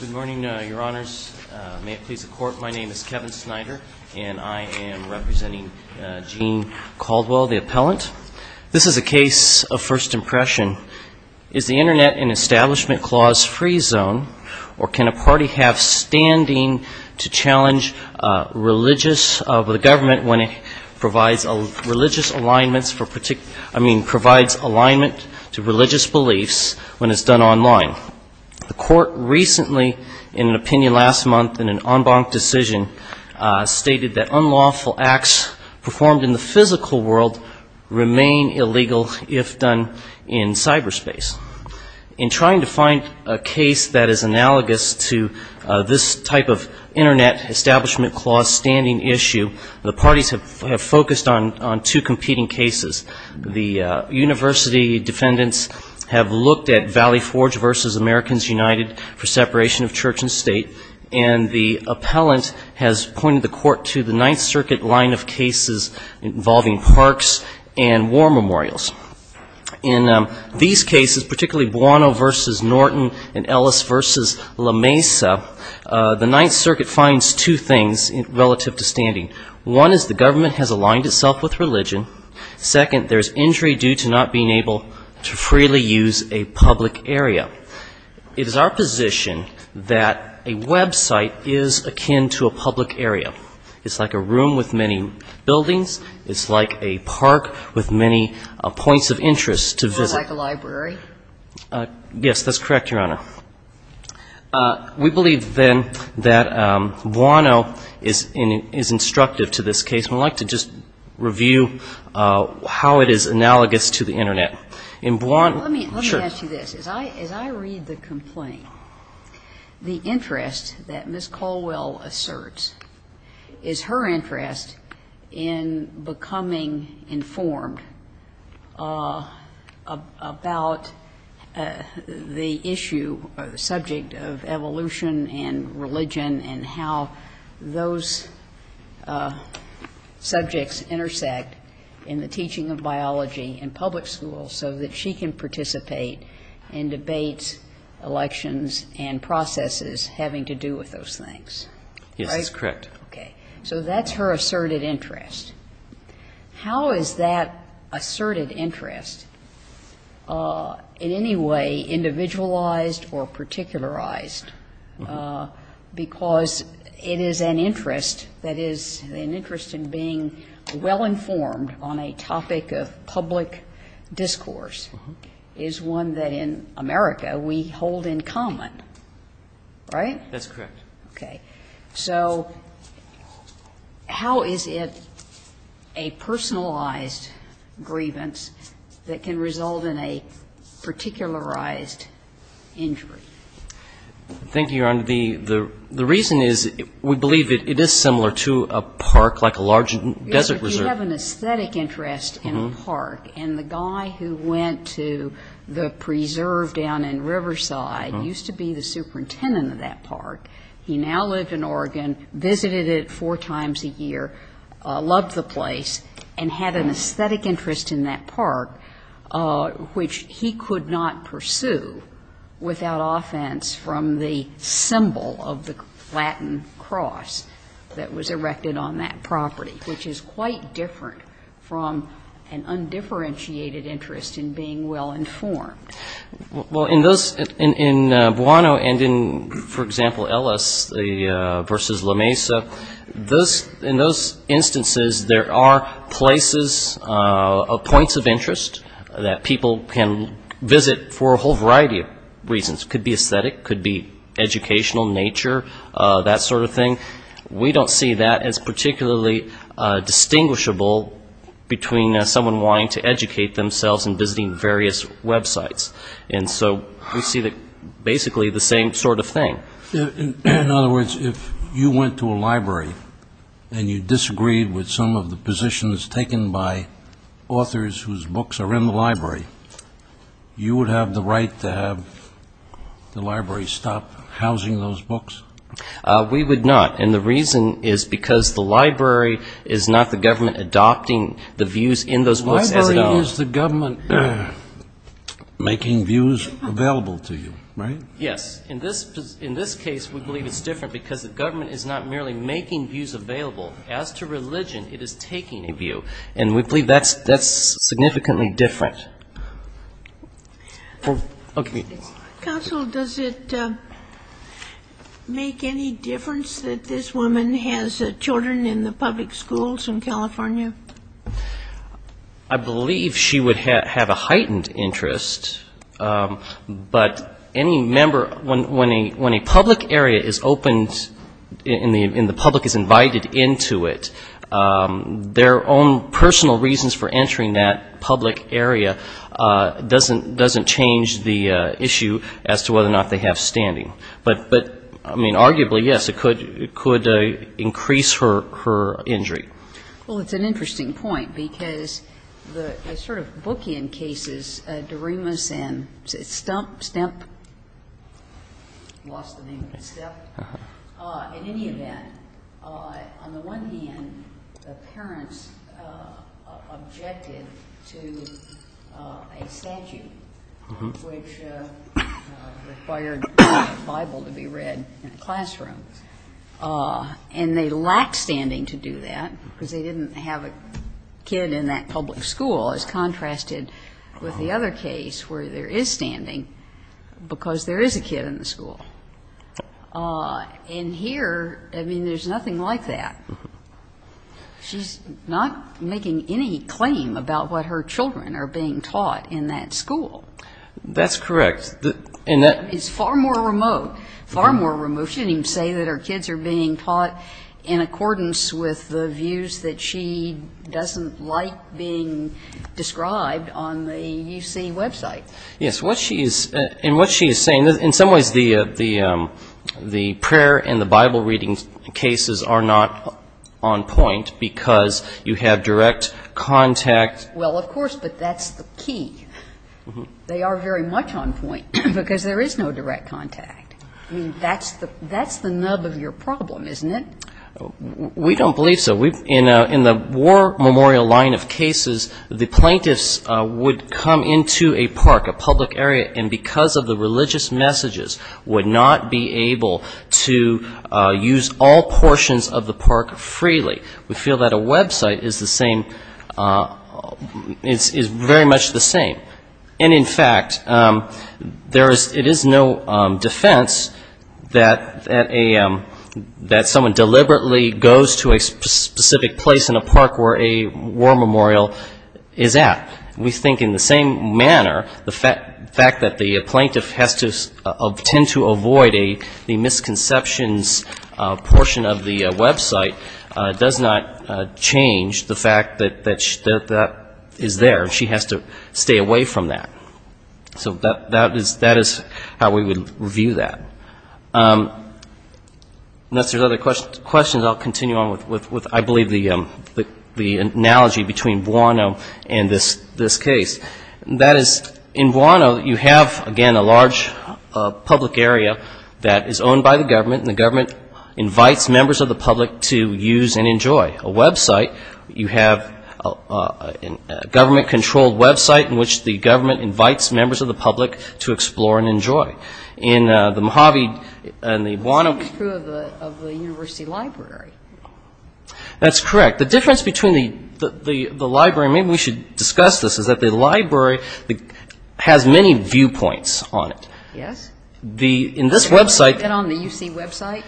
Good morning, Your Honors. May it please the Court, my name is Kevin Snyder, and I am representing Gene Caldwell, the appellant. This is a case of first impression. Is the Internet and Establishment Clause free zone, or can a party have standing to challenge the government when it provides religious alignments for particular, I mean provides alignment to religious beliefs when it's done online? The Court recently, in an opinion last month in an en banc decision, stated that unlawful acts performed in the physical world remain illegal if done in cyberspace. In trying to find a case that is analogous to this type of Internet Establishment Clause standing issue, the parties have focused on two competing cases. The university defendants have looked at Valley Forge v. Americans United for separation of church and state, and the appellant has pointed the Court to the Ninth Circuit line of cases involving parks and war memorials. In these cases, particularly Buono v. Norton and Ellis v. La Mesa, the standing. One is the government has aligned itself with religion. Second, there's injury due to not being able to freely use a public area. It is our position that a website is akin to a public area. It's like a room with many buildings. It's like a park with many points of interest to visit. It's more like a library? Yes, that's correct, Your Honor. We believe, then, that Buono is instructive to this case, and I'd like to just review how it is analogous to the Internet. In Buono Let me ask you this. As I read the complaint, the interest that Ms. Caldwell asserts is her interest in becoming informed about what's going on in the community, in the community, about the issue, subject of evolution and religion and how those subjects intersect in the teaching of biology in public schools so that she can participate in debates, elections, and processes having to do with those things, right? Yes, that's correct. Okay. So that's her asserted interest. How is that asserted interest in any way individualized or particularized? Because it is an interest that is an interest in being well-informed on a topic of public discourse is one that in America we hold in common, right? That's correct. Okay. So how is it a personalized grievance that can result in a particularized injury? Thank you, Your Honor. The reason is we believe it is similar to a park, like a large desert reserve. Yes, but you have an aesthetic interest in a park, and the guy who went to the preserve down in Riverside used to be the superintendent of that park. He now lived in Oregon, visited it four times a year, loved the place, and had an aesthetic interest in that park, which he could not pursue without offense from the symbol of the Latin cross that was erected on that property, which is quite different from an undifferentiated interest in being well-informed. Well, in those, in Buono and in, for example, Ellis versus La Mesa, in those instances, there are places, points of interest that people can visit for a whole variety of reasons. Could be aesthetic, could be educational, nature, that sort of thing. We don't see that as particularly distinguishable between someone wanting to educate themselves and visiting various websites, and so we see basically the same sort of thing. In other words, if you went to a library and you disagreed with some of the positions taken by authors whose books are in the library, you would have the right to have the library stop housing those books? We would not, and the reason is because the library is not the government adopting the views in those books as it are. So it is the government making views available to you, right? Yes. In this case, we believe it's different because the government is not merely making views available. As to religion, it is taking a view, and we believe that's significantly different. Counsel, does it make any difference that this woman has children in the public schools in California? I believe she would have a heightened interest, but any member, when a public area is opened and the public is invited into it, their own personal reasons for entering that public area doesn't change the issue as to whether or not they have standing. But, I mean, arguably, yes, it could increase her injury. Well, it's an interesting point because the sort of bookend cases, Doremus and Stump, Stump? Lost the name, but it's Stump. In any event, on the one hand, the parents objected to a statute which required the Bible to be read in a classroom, and they lack standing to do that because they didn't have a kid in that public school, as contrasted with the other case where there is standing because there is a kid in the school. And here, I mean, there's nothing like that. She's not making any claim about what her children are being taught in that school. That's correct. It's far more remote, far more remote. She didn't even say that her kids are being taught in accordance with the views that she doesn't like being described on the UC website. Yes. And what she is saying, in some ways, the prayer and the Bible reading cases are not on point because you have direct contact. Well, of course, but that's the key. They are very much on point because there is no And that's part of your problem, isn't it? We don't believe so. In the war memorial line of cases, the plaintiffs would come into a park, a public area, and because of the religious messages, would not be able to use all portions of the park freely. We feel that a website is the same, is very much the same. And in fact, it is no defense that someone deliberately goes to a specific place in a park where a war memorial is at. We think in the same manner, the fact that the plaintiff has to tend to avoid the misconceptions portion of the website does not change the fact that that is there. She has to stay away from that. So that is how we would review that. Unless there are other questions, I'll continue on with, I believe, the analogy between Buono and this case. That is, in Buono, you have, again, a large public area that is owned by the government, and the government invites members of the public to use and enjoy a website. You have a government-controlled website in which the government invites members of the public to explore and enjoy. In the Mojave and the Buono – But the same is true of the university library. That's correct. The difference between the library – and maybe we should discuss this – is that the library has many viewpoints on it. Yes. In this website – Is that on the UC website?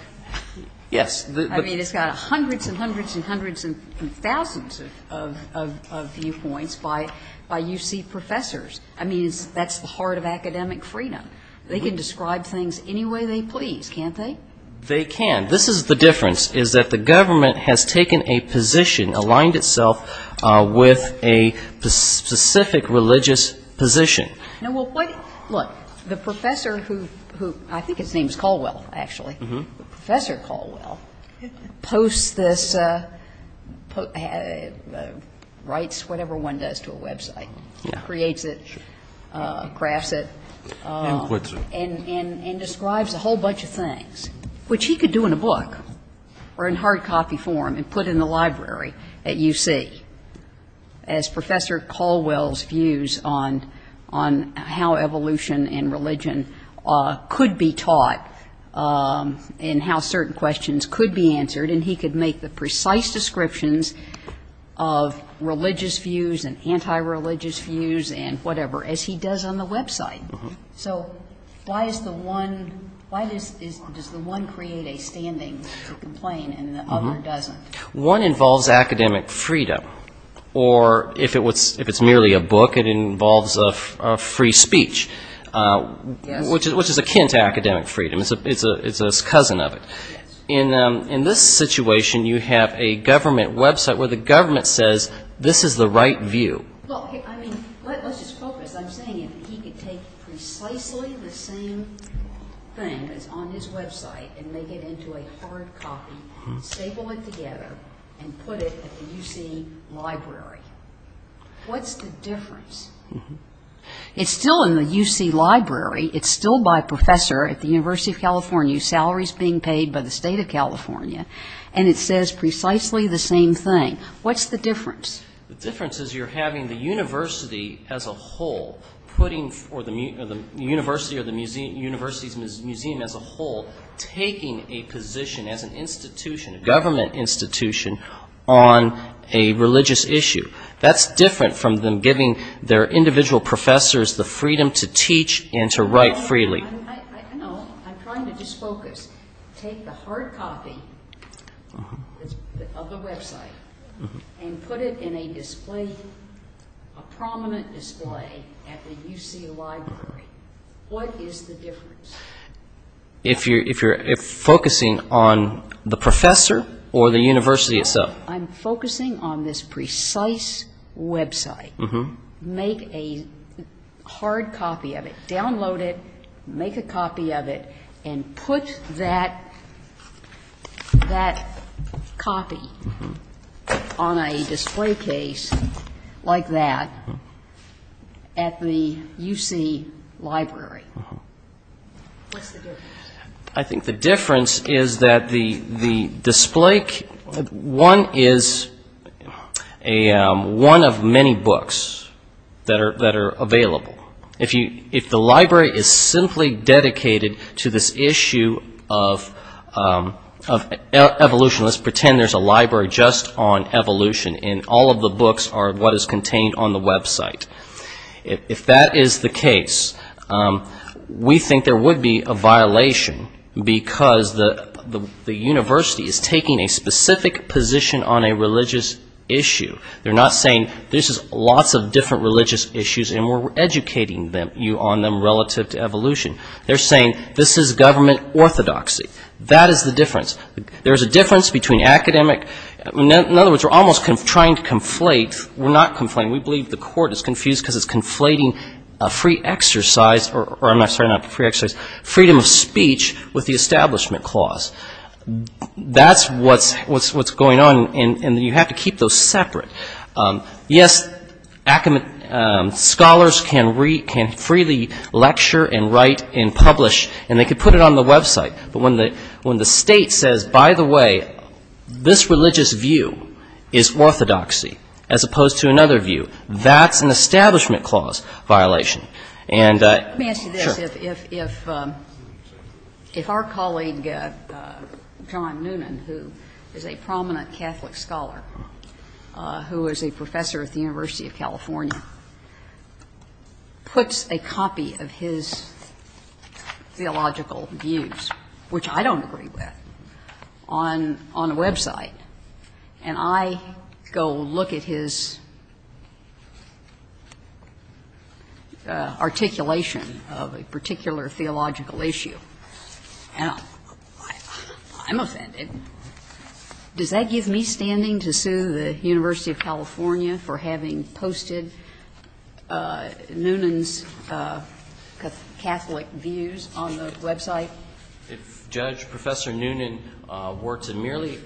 Yes. I mean, it's got hundreds and hundreds and hundreds and thousands of viewpoints by UC professors. I mean, that's the heart of academic freedom. They can describe things any way they please, can't they? They can. This is the difference, is that the government has taken a position, aligned itself with a specific religious position. Now, well, what – look, the professor who – I think his name is Caldwell, actually, but Professor Caldwell posts this – writes whatever one does to a website, creates it, crafts it, and describes a whole bunch of things, which he could do in a book or in hard copy form and put in the library at UC, as Professor Caldwell's views on how evolution and religion could be taught and how certain questions could be answered. And he could make the precise descriptions of religious views and anti-religious views and whatever, as he does on the website. So why is the one – why does the one create a standing to complain and the other doesn't? One involves academic freedom. Or if it's merely a book, it involves a free speech. Which is akin to academic freedom. It's a cousin of it. In this situation, you have a government website where the government says, this is the right view. Well, I mean, let's just focus. I'm saying if he could take precisely the same thing that's on his website and make it into a hard copy, staple it together, and put it at the UC library, what's the difference? It's still in the UC library. It's still by a professor at the University of California, salaries being paid by the state of California. And it says precisely the same thing. What's the difference? The difference is you're having the university as a whole putting – or the university or the university's museum as a whole taking a position as an institution, a government institution, on a religious issue. That's different from them giving their individual professors the freedom to teach and to write freely. I know. I'm trying to just focus. Take the hard copy of the website and put it in a display, a prominent display at the UC library. What is the difference? If you're focusing on the professor or the university itself? I'm focusing on this precise website. Make a hard copy of it, download it, make a copy of it, and put that copy on a display case like that at the UC library. What's the difference? I think the difference is that the display – one is one of many books that are available. If the library is simply dedicated to this issue of evolution, let's pretend there's a library just on evolution and all of the books are what is contained on the website. If that is the case, we think there would be a violation because the university is taking a specific position on a religious issue. They're not saying this is lots of different religious issues and we're educating you on them relative to evolution. They're saying this is government orthodoxy. That is the difference. There's a difference between academic – in other words, we're almost trying to conflate – we're not conflating. We believe the court is confused because it's conflating a free exercise – or I'm sorry, not a free exercise – freedom of speech with the establishment clause. That's what's going on and you have to keep those separate. Yes, scholars can freely lecture and write and publish and they can put it on the website, but when the state says, by the way, this religious view is orthodoxy as opposed to another view, that's an establishment clause violation. Let me ask you this. If our colleague John Noonan, who is a prominent Catholic scholar, who is a professor at the University of California, puts a copy of his theological views on the website, which I don't agree with, on a website, and I go look at his articulation of a particular theological issue, I'm offended. Does that give me standing to sue the University of California for having posted Noonan's Catholic views on the website? If Judge Professor Noonan were to merely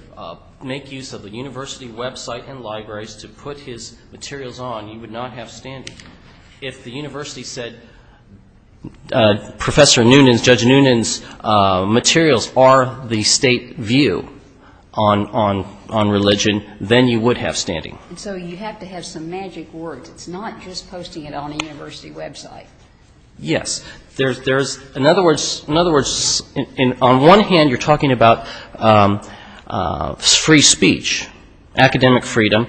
make use of the university website and libraries to put his materials on, you would not have standing. If the university said, Professor Noonan's, Judge Noonan's materials are the state view on religion, then you would have standing. So you have to have some magic words. It's not just posting it on a university website. Yes. There's, in other words, on one hand you're talking about free speech, academic freedom.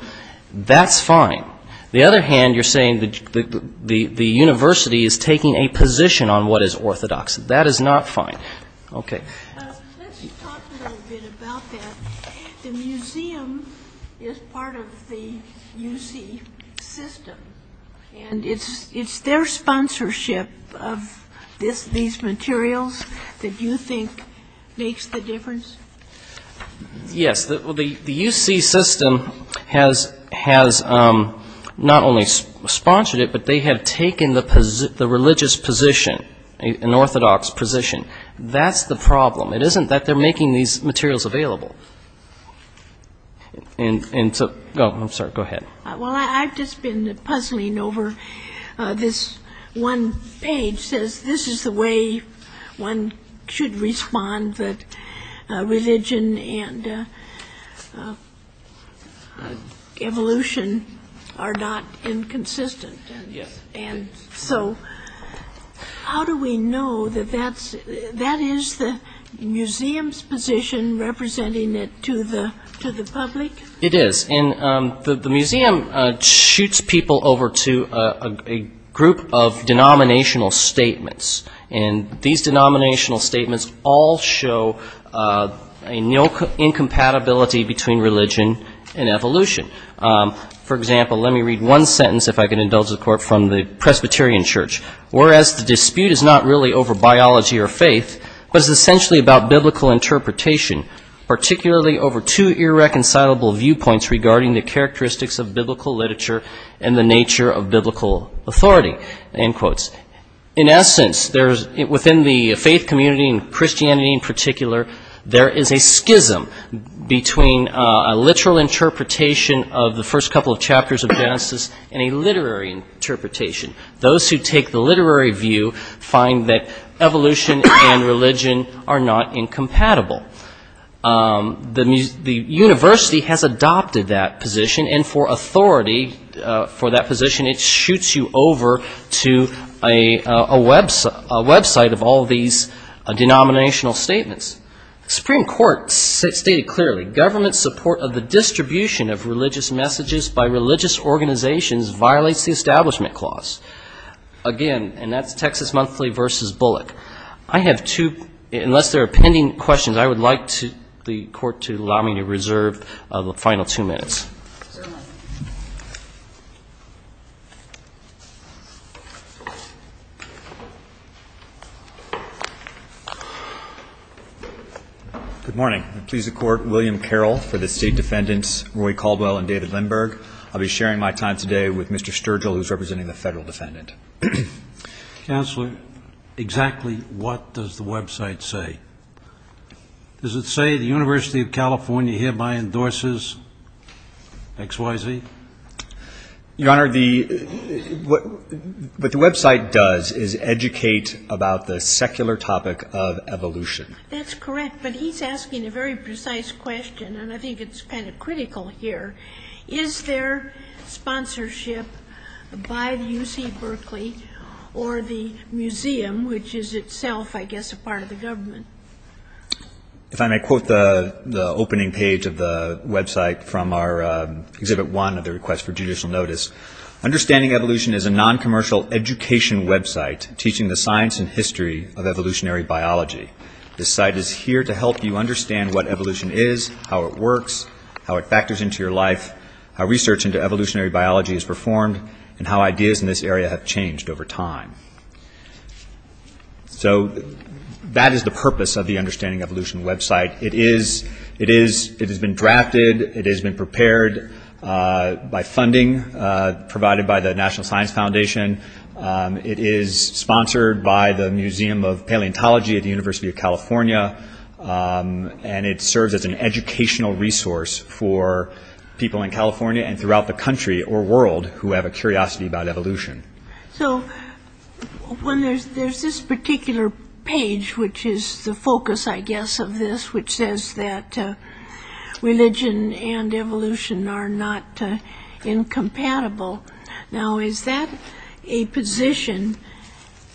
That's fine. The other hand, you're saying the university is taking a position on what is orthodox. That is not fine. Let's talk a little bit about that. The museum is part of the UC system, and it's their sponsorship of these materials that you think makes the difference? Yes. The UC system has not only sponsored it, but they have taken the religious position, an orthodox position. That's the problem. It isn't that they're making these materials available. Well, I've just been puzzling over this one article that was published in the New York Times. One page says, this is the way one should respond that religion and evolution are not inconsistent, and so how do we know that that is the museum's position representing it to the public? It is, and the museum shoots people over to a group of denominational statements, and these denominational statements all show an incompatibility between religion and evolution. For example, let me read one sentence, if I can indulge the Court, from the Presbyterian Church, whereas the dispute is not really over biology or faith, but it's essentially about biblical interpretation, particularly over two irreconcilable viewpoints regarding the characteristics of biblical literature and the nature of biblical authority. In essence, within the faith community and Christianity in particular, there is a schism between a literal interpretation of the first couple of chapters of Genesis and a literary interpretation. Those who take the literary view find that evolution and religion are not incompatible. The university has adopted that position, and for authority for that position, it shoots you over to a website of all these denominational statements. Supreme Court stated clearly, government support of the distribution of religious messages by religious organizations violates the Establishment Clause. Again, and that's Texas Monthly versus Bullock. I have two, unless there are pending questions, I would like the Court to allow me to reserve the final two minutes. Good morning. I please the Court, William Carroll, for the State Defendants Roy Caldwell and David Lindberg. I'll be sharing my time today with Mr. Sturgill, who's representing the Federal Defendant. Counselor, exactly what does the website say? Does it say the University of California hereby endorses X, Y, Z? Your Honor, what the website does is educate about the secular topic of evolution. That's correct, but he's asking a very precise question, and I think it's kind of critical here. Is there sponsorship by the UC Berkeley or the museum, which is itself, I guess, a part of the government? If I may quote the opening page of the website from our Exhibit 1 of the request for judicial notice, understanding evolution is a non-commercial education website teaching the science and the technology. This site is here to help you understand what evolution is, how it works, how it factors into your life, how research into evolutionary biology is performed, and how ideas in this area have changed over time. So that is the purpose of the Understanding Evolution website. It has been drafted, it has been prepared by funding provided by the National Science Foundation. It is sponsored by the Museum of Paleontology at the University of California, and it serves as an educational resource for people in California and throughout the country or world who have a curiosity about evolution. So there's this particular page, which is the focus, I guess, of this, which says that religion and evolution are not incompatible. Now is that a position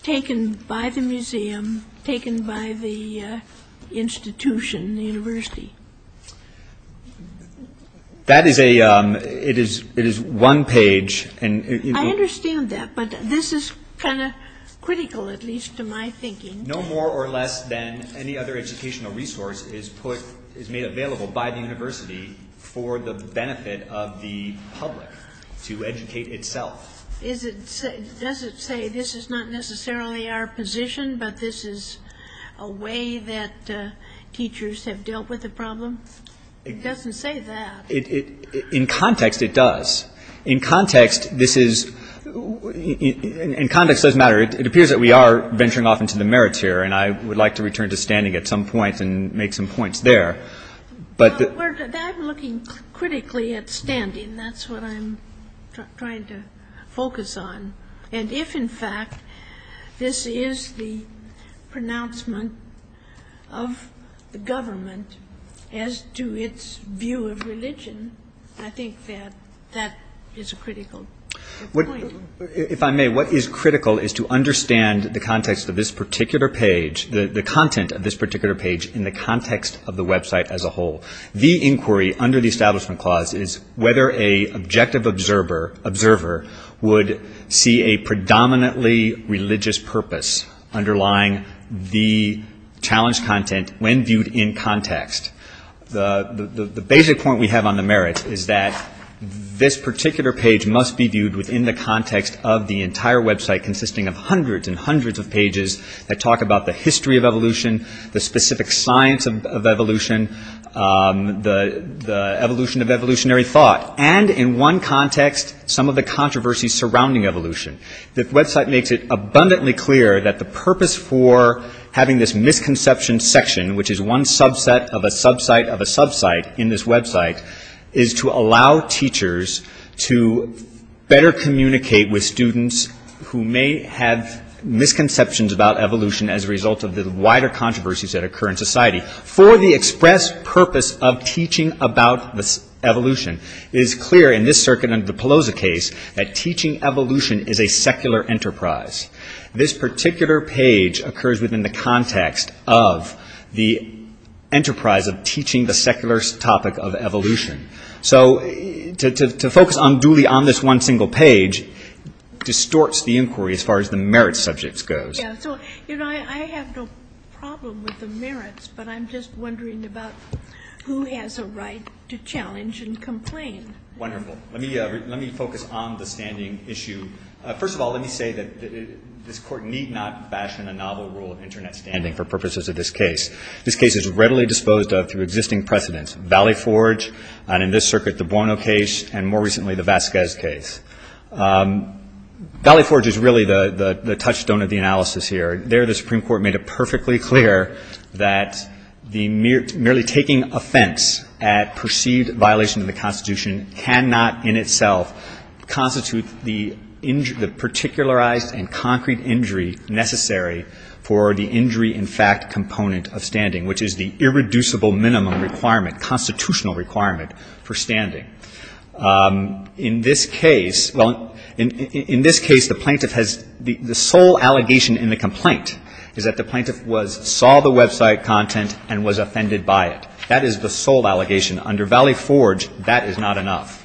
taken by the University or taken by the museum, taken by the institution, the university? That is a, it is one page, and... I understand that, but this is kind of critical, at least to my thinking. No more or less than any other educational resource is made available by the university for the benefit of the public to educate itself. Is it, does it say this is not necessarily our position, but this is a way that teachers have dealt with the problem? It doesn't say that. In context, it does. In context, this is, in context it doesn't matter. It appears that we are venturing off into the merits here, and I would like to return to standing at some point and make some points there. I'm looking critically at standing. That's what I'm trying to focus on. And if in fact this is the pronouncement of the government as to its view of religion, I think that that is a critical point. If I may, what is critical is to understand the context of this particular page, the content of this particular page in the context of the website as a whole. The inquiry under the Establishment Clause is whether an objective observer would see a predominantly religious purpose underlying the challenged content when viewed in context. The basic point we have on the merits is that this particular page must be viewed within the context of the entire website consisting of hundreds and hundreds of pages that talk about the history of evolution, the specific science of evolution, the evolution of evolutionary thought, and in one context, some of the controversies surrounding evolution. The website makes it abundantly clear that the purpose for having this misconceptions section, which is one subset of a sub-site of a sub-site in this website, is to allow teachers to better communicate with students who may have misconceptions about evolution as a result of the wider controversies that occur in society. For the express purpose of teaching about evolution, it is clear in this circuit under the Pelosa case that teaching evolution is a secular enterprise. This particular page occurs within the context of the enterprise of teaching the secular topic of evolution. So to focus unduly on this one single page distorts the inquiry as far as the merits subject goes. I have no problem with the merits, but I'm just wondering about who has a right to challenge and complain. Wonderful. Let me focus on the standing issue. First of all, let me say that this Court need not fashion a novel rule of Internet standing for purposes of this case. This case is readily disposed of through existing precedents, Valley Forge, and in this circuit the Buono case, and more recently the Vasquez case. Valley Forge is really the touchstone of the analysis here. There the Supreme Court made it perfectly clear that the merely taking offense at perceived violation of the Constitution cannot in itself constitute the particularized and concrete injury necessary for the injury in fact component of standing, which is the irreducible minimum requirement, constitutional requirement, for standing. In this case, well, in this case the plaintiff has the sole allegation in the complaint is that the plaintiff was saw the website content and was offended by it. That is the sole allegation. Under Valley Forge, that is not enough.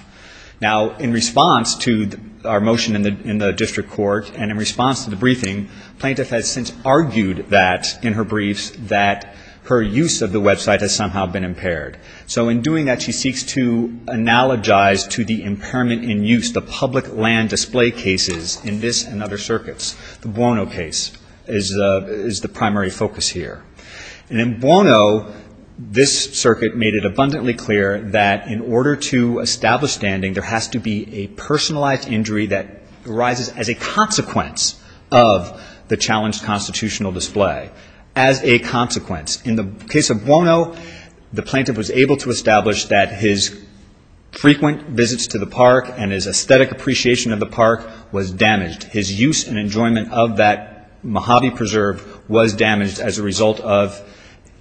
Now in response to our motion in the district court and in response to the briefing, plaintiff has since argued that in her briefs that her use of the website has somehow been impaired. So in doing that, she seeks to analogize to the impairment in use, the public land display cases in this and other circuits. The Buono case is the primary focus here, and in Buono, this circuit made it abundantly clear that in order to establish standing, there has to be a personalized injury that arises as a consequence of the challenged constitutional display, as a consequence. In the case of Buono, the plaintiff was able to establish that his frequent visits to the park and his aesthetic appreciation of the park was damaged. His use and enjoyment of that Mojave preserve was damaged as a result of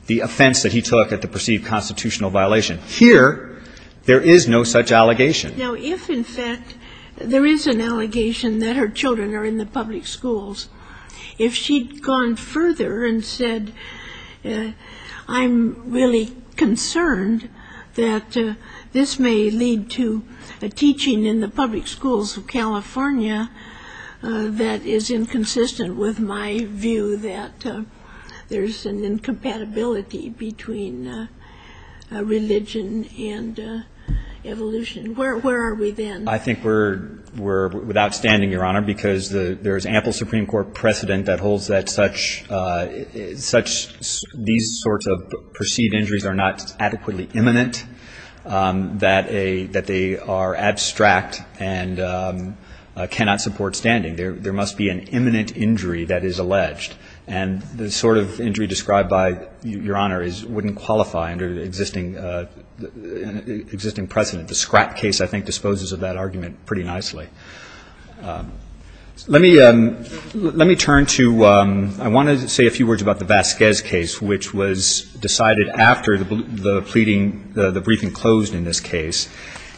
the offense that he took at the perceived constitutional violation. Here there is no such allegation. Now if in fact there is an allegation that her children are in the public schools, if she'd gone further and said, I'm really concerned that this may lead to a teaching in the public schools of California that is inconsistent with my view that there's an incompatibility between religion and evolution, where are we then? I think we're outstanding, Your Honor, because there is ample Supreme Court precedent that holds that such these sorts of perceived injuries are not adequately imminent, that they are abstract and cannot support standing. There must be an imminent injury that is alleged, and the sort of injury described by Your Honor wouldn't qualify under existing precedent. The Scrapp case, I think, disposes of that argument pretty nicely. Let me turn to, I want to say a few words about the Vasquez case, which was decided after the pleading, the briefing closed in this case.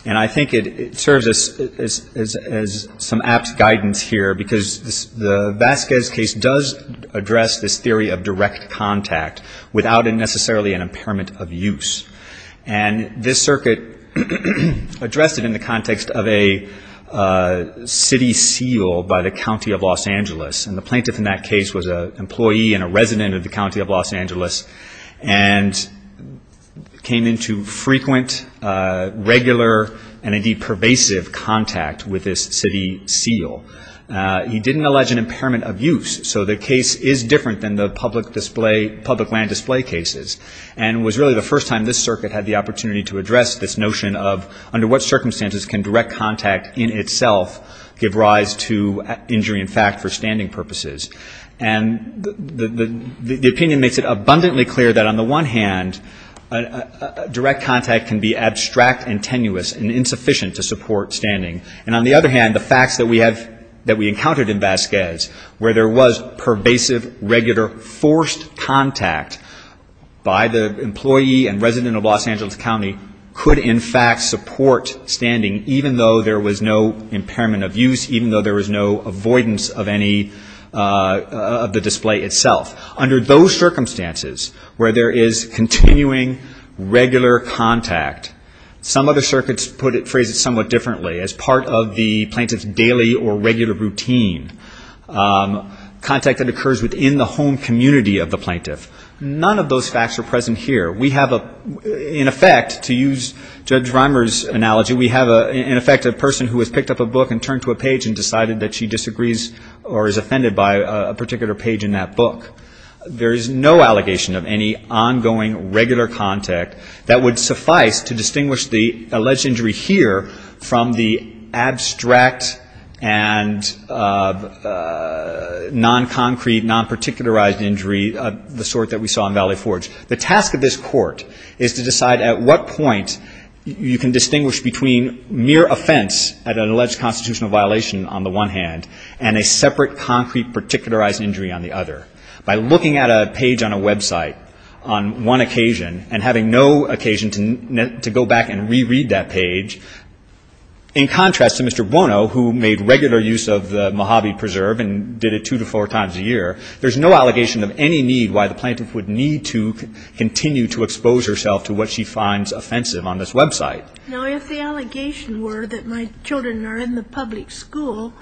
And I think it serves as some apt guidance here, because the Vasquez case does address this theory of direct contact without necessarily an impairment of use. And this circuit addressed it in the context of a city seal by the County of Los Angeles, and the plaintiff in that case was an employee and a resident of the County of Los Angeles, and came into frequent, regular, and indeed pervasive contact with this city seal. He didn't allege an impairment of use, so the case is different than the public land display cases. And it was really the first time this circuit had the opportunity to address this notion of under what circumstances can direct contact in itself give rise to injury in fact for standing purposes. And the opinion makes it abundantly clear that on the one hand, direct contact can be abstract and tenuous and insufficient to support standing. And on the other hand, the facts that we have, that we encountered in Vasquez, where there was pervasive, regular, forced contact by the employee and resident of Los Angeles County, could in fact support standing, even though there was no impairment of use, even though there was no avoidance of any of the display itself. Under those circumstances, where there is continuing, regular contact, some other circuits phrase it somewhat differently. As part of the plaintiff's daily or regular routine, contact that occurs within the home community of the plaintiff, none of those facts are present here. We have, in effect, to use Judge Rimer's analogy, we have in effect a person who has picked up a book and turned to a page and decided that she disagrees or is offended by a particular page in that book. There is no allegation of any ongoing, regular contact that would suffice to distinguish the alleged injury here from the abstract and non-concrete, non-particularized injury of the sort that we saw in Valley Forge. The task of this court is to decide at what point you can distinguish between mere offense at an alleged constitutional violation on the one hand and a separate, concrete, particularized injury on the other. By looking at a page on a website on one occasion and having no occasion to go back and re-read that page, in contrast to Mr. Buono, who made regular use of the Mojave Preserve and did it two to four times a year, there's no allegation of any need why the plaintiff would need to continue to expose herself to what she finds offensive on this website. Now, if the allegation were that my children are in the public school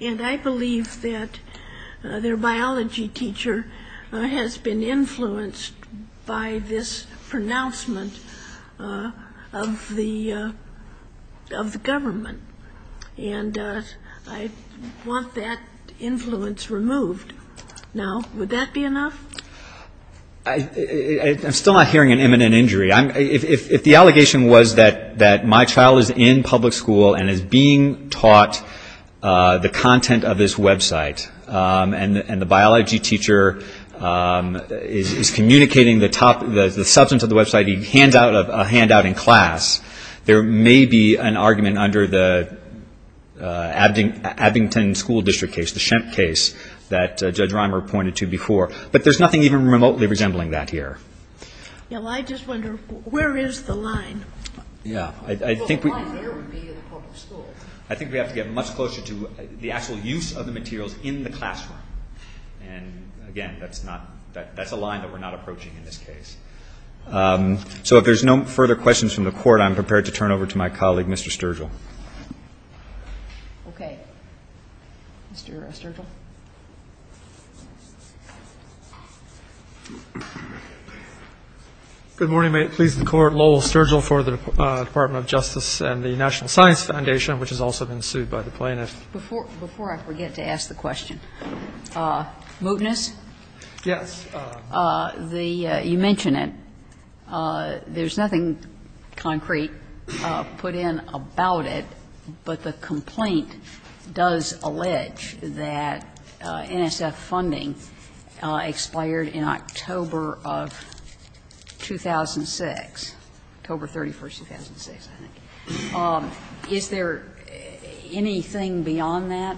and I believe that their biology teacher has been influenced by this pronouncement of the government, and I want that influence removed now, would that be enough? I'm still not hearing an imminent injury. If the allegation was that my child is in public school and is being taught the content of this website, and the biology teacher is communicating the substance of the website, a handout in class, there may be an argument under the Abington School District case, the Shemp case that Judge Reimer pointed to before, but there's nothing even remotely resembling that here. I just wonder, where is the line? I think we have to get much closer to the actual use of the materials in the classroom. And again, that's a line that we're not approaching in this case. So if there's no further questions from the Court, I'm prepared to turn it over to my colleague Mr. Sturgill. Okay. Mr. Sturgill. Good morning. May it please the Court, Lowell Sturgill for the Department of Justice and the National Science Foundation, which has also been sued by the plaintiffs. Before I forget to ask the question, mootness? Yes. You mention it. There's nothing concrete put in about it, but the complaint does allege that the NSF funding expired in October of 2006, October 31, 2006, I think. Is there anything beyond that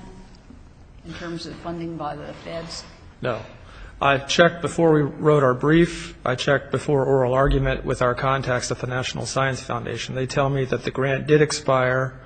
in terms of funding by the feds? No. I checked before we wrote our brief. I checked before oral argument with our contacts at the National Science Foundation. They tell me that the grant did expire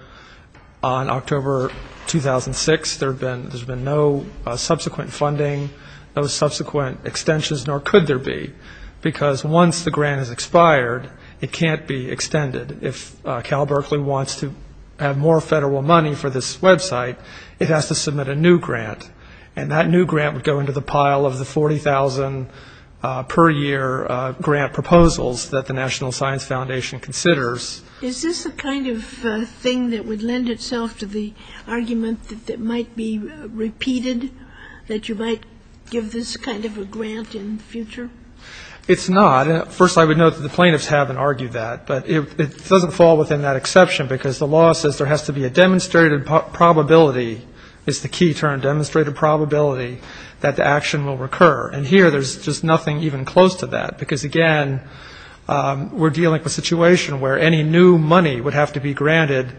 on October 2006. There's been no subsequent funding, no subsequent extensions, nor could there be, because once the grant has expired, it can't be extended. If Cal Berkeley wants to have more federal money for this website, it has to submit a new grant, and that new grant would go into the pile of the 40,000 per year grant proposals that the National Science Foundation considers. Is this the kind of thing that would lend itself to the argument that it might be repeated, that you might give this kind of a grant in the future? It's not. First, I would note that the plaintiffs haven't argued that, but it doesn't fall within that exception, because the law says there has to be a demonstrated probability, is the key term, demonstrated probability, that the action will recur. And here there's just nothing even close to that, because, again, we're dealing with a situation where any new money would have to be granted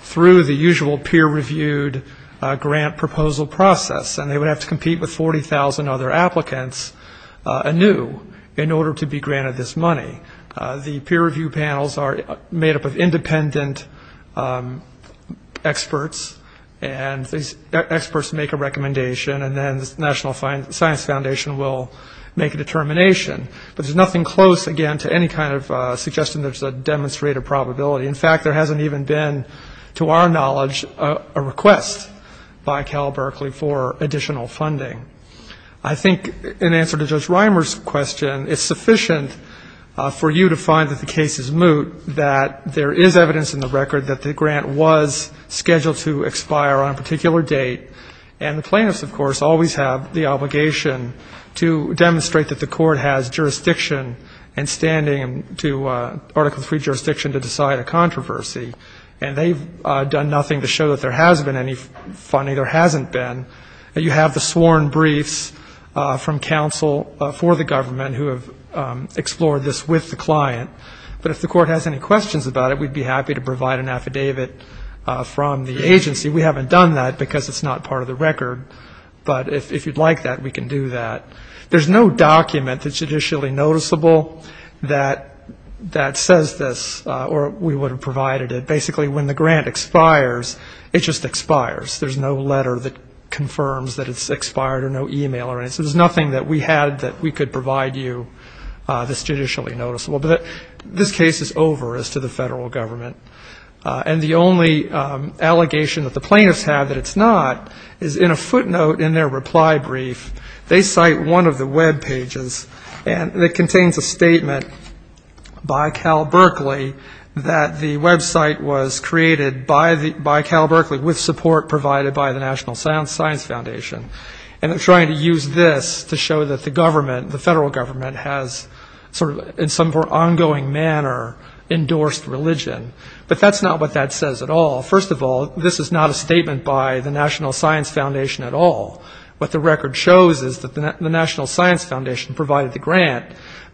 through the usual peer-reviewed grant proposal process, and they would have to compete with 40,000 other applicants anew in order to be granted this money. The peer-reviewed panels are made up of independent experts, and these experts make a recommendation, and then the National Science Foundation will make a determination. But there's nothing close, again, to any kind of suggestion there's a demonstrated probability. In fact, there hasn't even been, to our knowledge, a request by Cal Berkeley for additional funding. I think in answer to Judge Reimer's question, it's sufficient for you to find that the case is moot, that there is evidence in the record that the grant was scheduled to expire on a particular date, and the plaintiffs, of course, always have the obligation to demonstrate that the Court has jurisdiction and standing to Article III jurisdiction to decide a controversy. And they've done nothing to show that there has been any funding. There hasn't been. You have the sworn briefs from counsel for the government who have explored this with the client. But if the Court has any questions about it, we'd be happy to provide an affidavit from the agency. We haven't done that because it's not part of the record. But if you'd like that, we can do that. There's no document that's judicially noticeable that says this, or we would have provided it. Basically, when the grant expires, it just expires. There's no letter that confirms that it's expired or no e-mail or anything. So there's nothing that we had that we could provide you that's judicially noticeable. But this case is over as to the federal government. And the only allegation that the plaintiffs have that it's not is in a footnote in their reply brief. They cite one of the Web pages that contains a statement by Cal Berkeley that the Web site was created by Cal Berkeley with support provided by the National Science Foundation. And they're trying to use this to show that the government, the federal government, has sort of in some more ongoing manner endorsed religion. But that's not what that says at all. First of all, this is not a statement by the National Science Foundation at all. What the record shows is that the National Science Foundation provided the grant,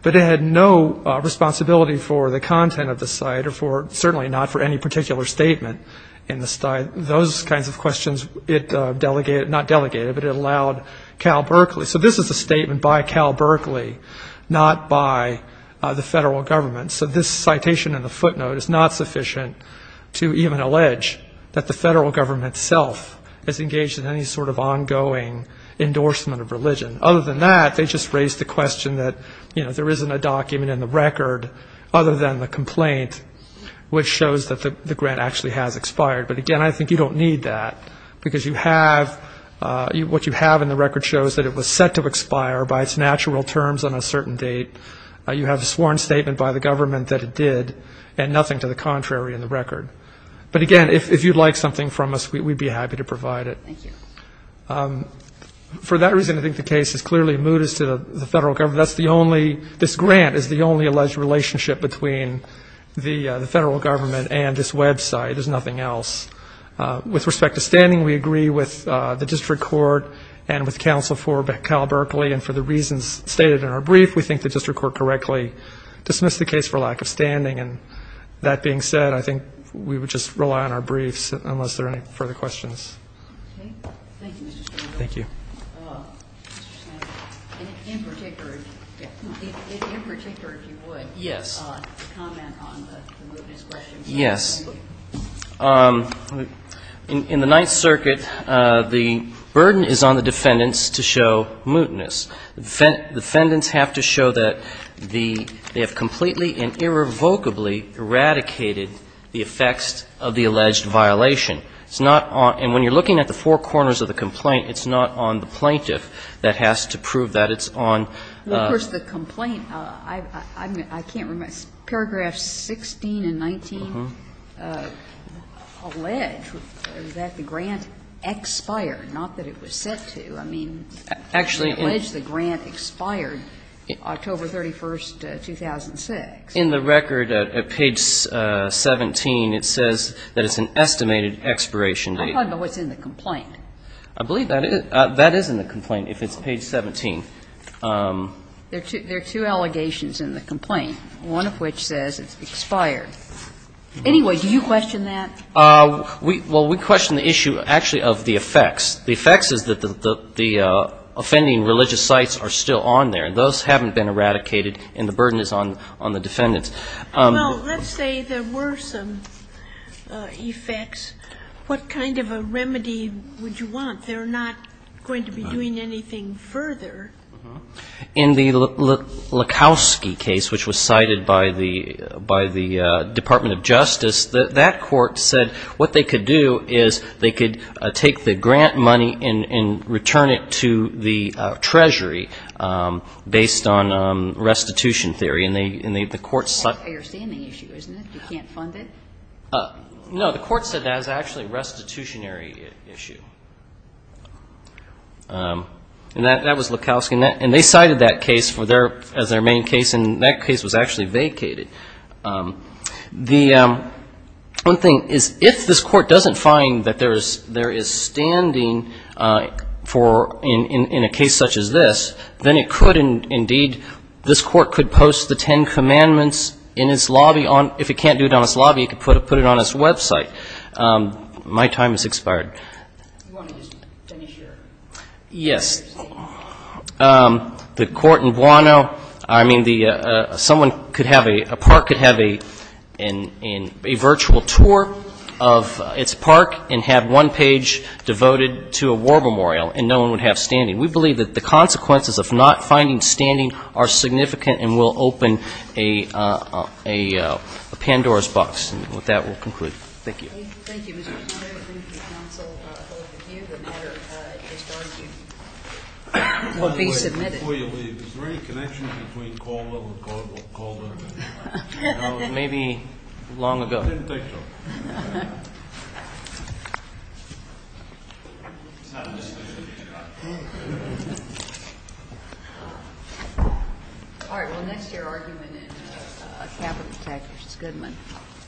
but it had no responsibility for the content of the site or certainly not for any particular statement. Those kinds of questions it delegated, not delegated, but it allowed Cal Berkeley. So this is a statement by Cal Berkeley, not by the federal government. So this citation in the footnote is not sufficient to even allege that the federal government itself has engaged in any sort of ongoing endorsement of religion. Other than that, they just raised the question that, you know, there isn't a document in the record other than the complaint, which shows that the grant actually has expired. But, again, I think you don't need that because you have what you have in the record shows that it was set to expire by its natural terms on a certain date. You have a sworn statement by the government that it did and nothing to the contrary in the record. But, again, if you'd like something from us, we'd be happy to provide it. For that reason, I think the case is clearly moot as to the federal government. That's the only ñ this grant is the only alleged relationship between the federal government and this Web site. There's nothing else. With respect to standing, we agree with the district court and with counsel for Cal Berkeley, and for the reasons stated in our brief, we think the district court correctly dismissed the case for lack of standing. And that being said, I think we would just rely on our briefs unless there are any further questions. Okay. Thank you, Mr. Randolph. Thank you. Mr. Smith, in particular, if you would. Yes. To comment on the mootness question. Yes. In the Ninth Circuit, the burden is on the defendants to show mootness. The defendants have to show that the ñ they have completely and irrevocably eradicated the effects of the alleged violation. It's not on ñ and when you're looking at the four corners of the complaint, it's not on the plaintiff that has to prove that. It's on ñ Well, of course, the complaint ñ I can't remember. Paragraphs 16 and 19 allege that the grant expired, not that it was set to. I mean, they allege the grant expired October 31, 2006. In the record at page 17, it says that it's an estimated expiration date. I don't know what's in the complaint. I believe that is ñ that is in the complaint if it's page 17. There are two allegations in the complaint, one of which says it's expired. Anyway, do you question that? Well, we question the issue actually of the effects. The effects is that the offending religious sites are still on there. Those haven't been eradicated, and the burden is on the defendants. Well, let's say there were some effects. What kind of a remedy would you want? They're not going to be doing anything further. In the Lukowski case, which was cited by the Department of Justice, that court said what they could do is they could take the grant money and return it to the treasury based on restitution theory. And the court ñ That's a standing issue, isn't it? You can't fund it? No, the court said that is actually a restitutionary issue. And that was Lukowski. And they cited that case as their main case, and that case was actually vacated. The one thing is if this court doesn't find that there is standing in a case such as this, then it could indeed ñ this court could post the Ten Commandments in its lobby on ñ if it can't do it on its lobby, it could put it on its website. My time has expired. You want to just finish your statement? Yes. The court in Buono, I mean, the ñ someone could have a ñ a park could have a virtual tour of its park and have one page devoted to a war memorial, and no one would have standing. We believe that the consequences of not finding standing are significant and will open a Pandora's box. And with that, we'll conclude. Thank you. Thank you. Mr. Chairman, I would like to consult both of you. The matter is going to be submitted. By the way, before you leave, is there any connection between Caldwell and Caldwell? No, maybe long ago. It didn't take long. All right. Well, next, your argument in Capital Attack v. Goodman.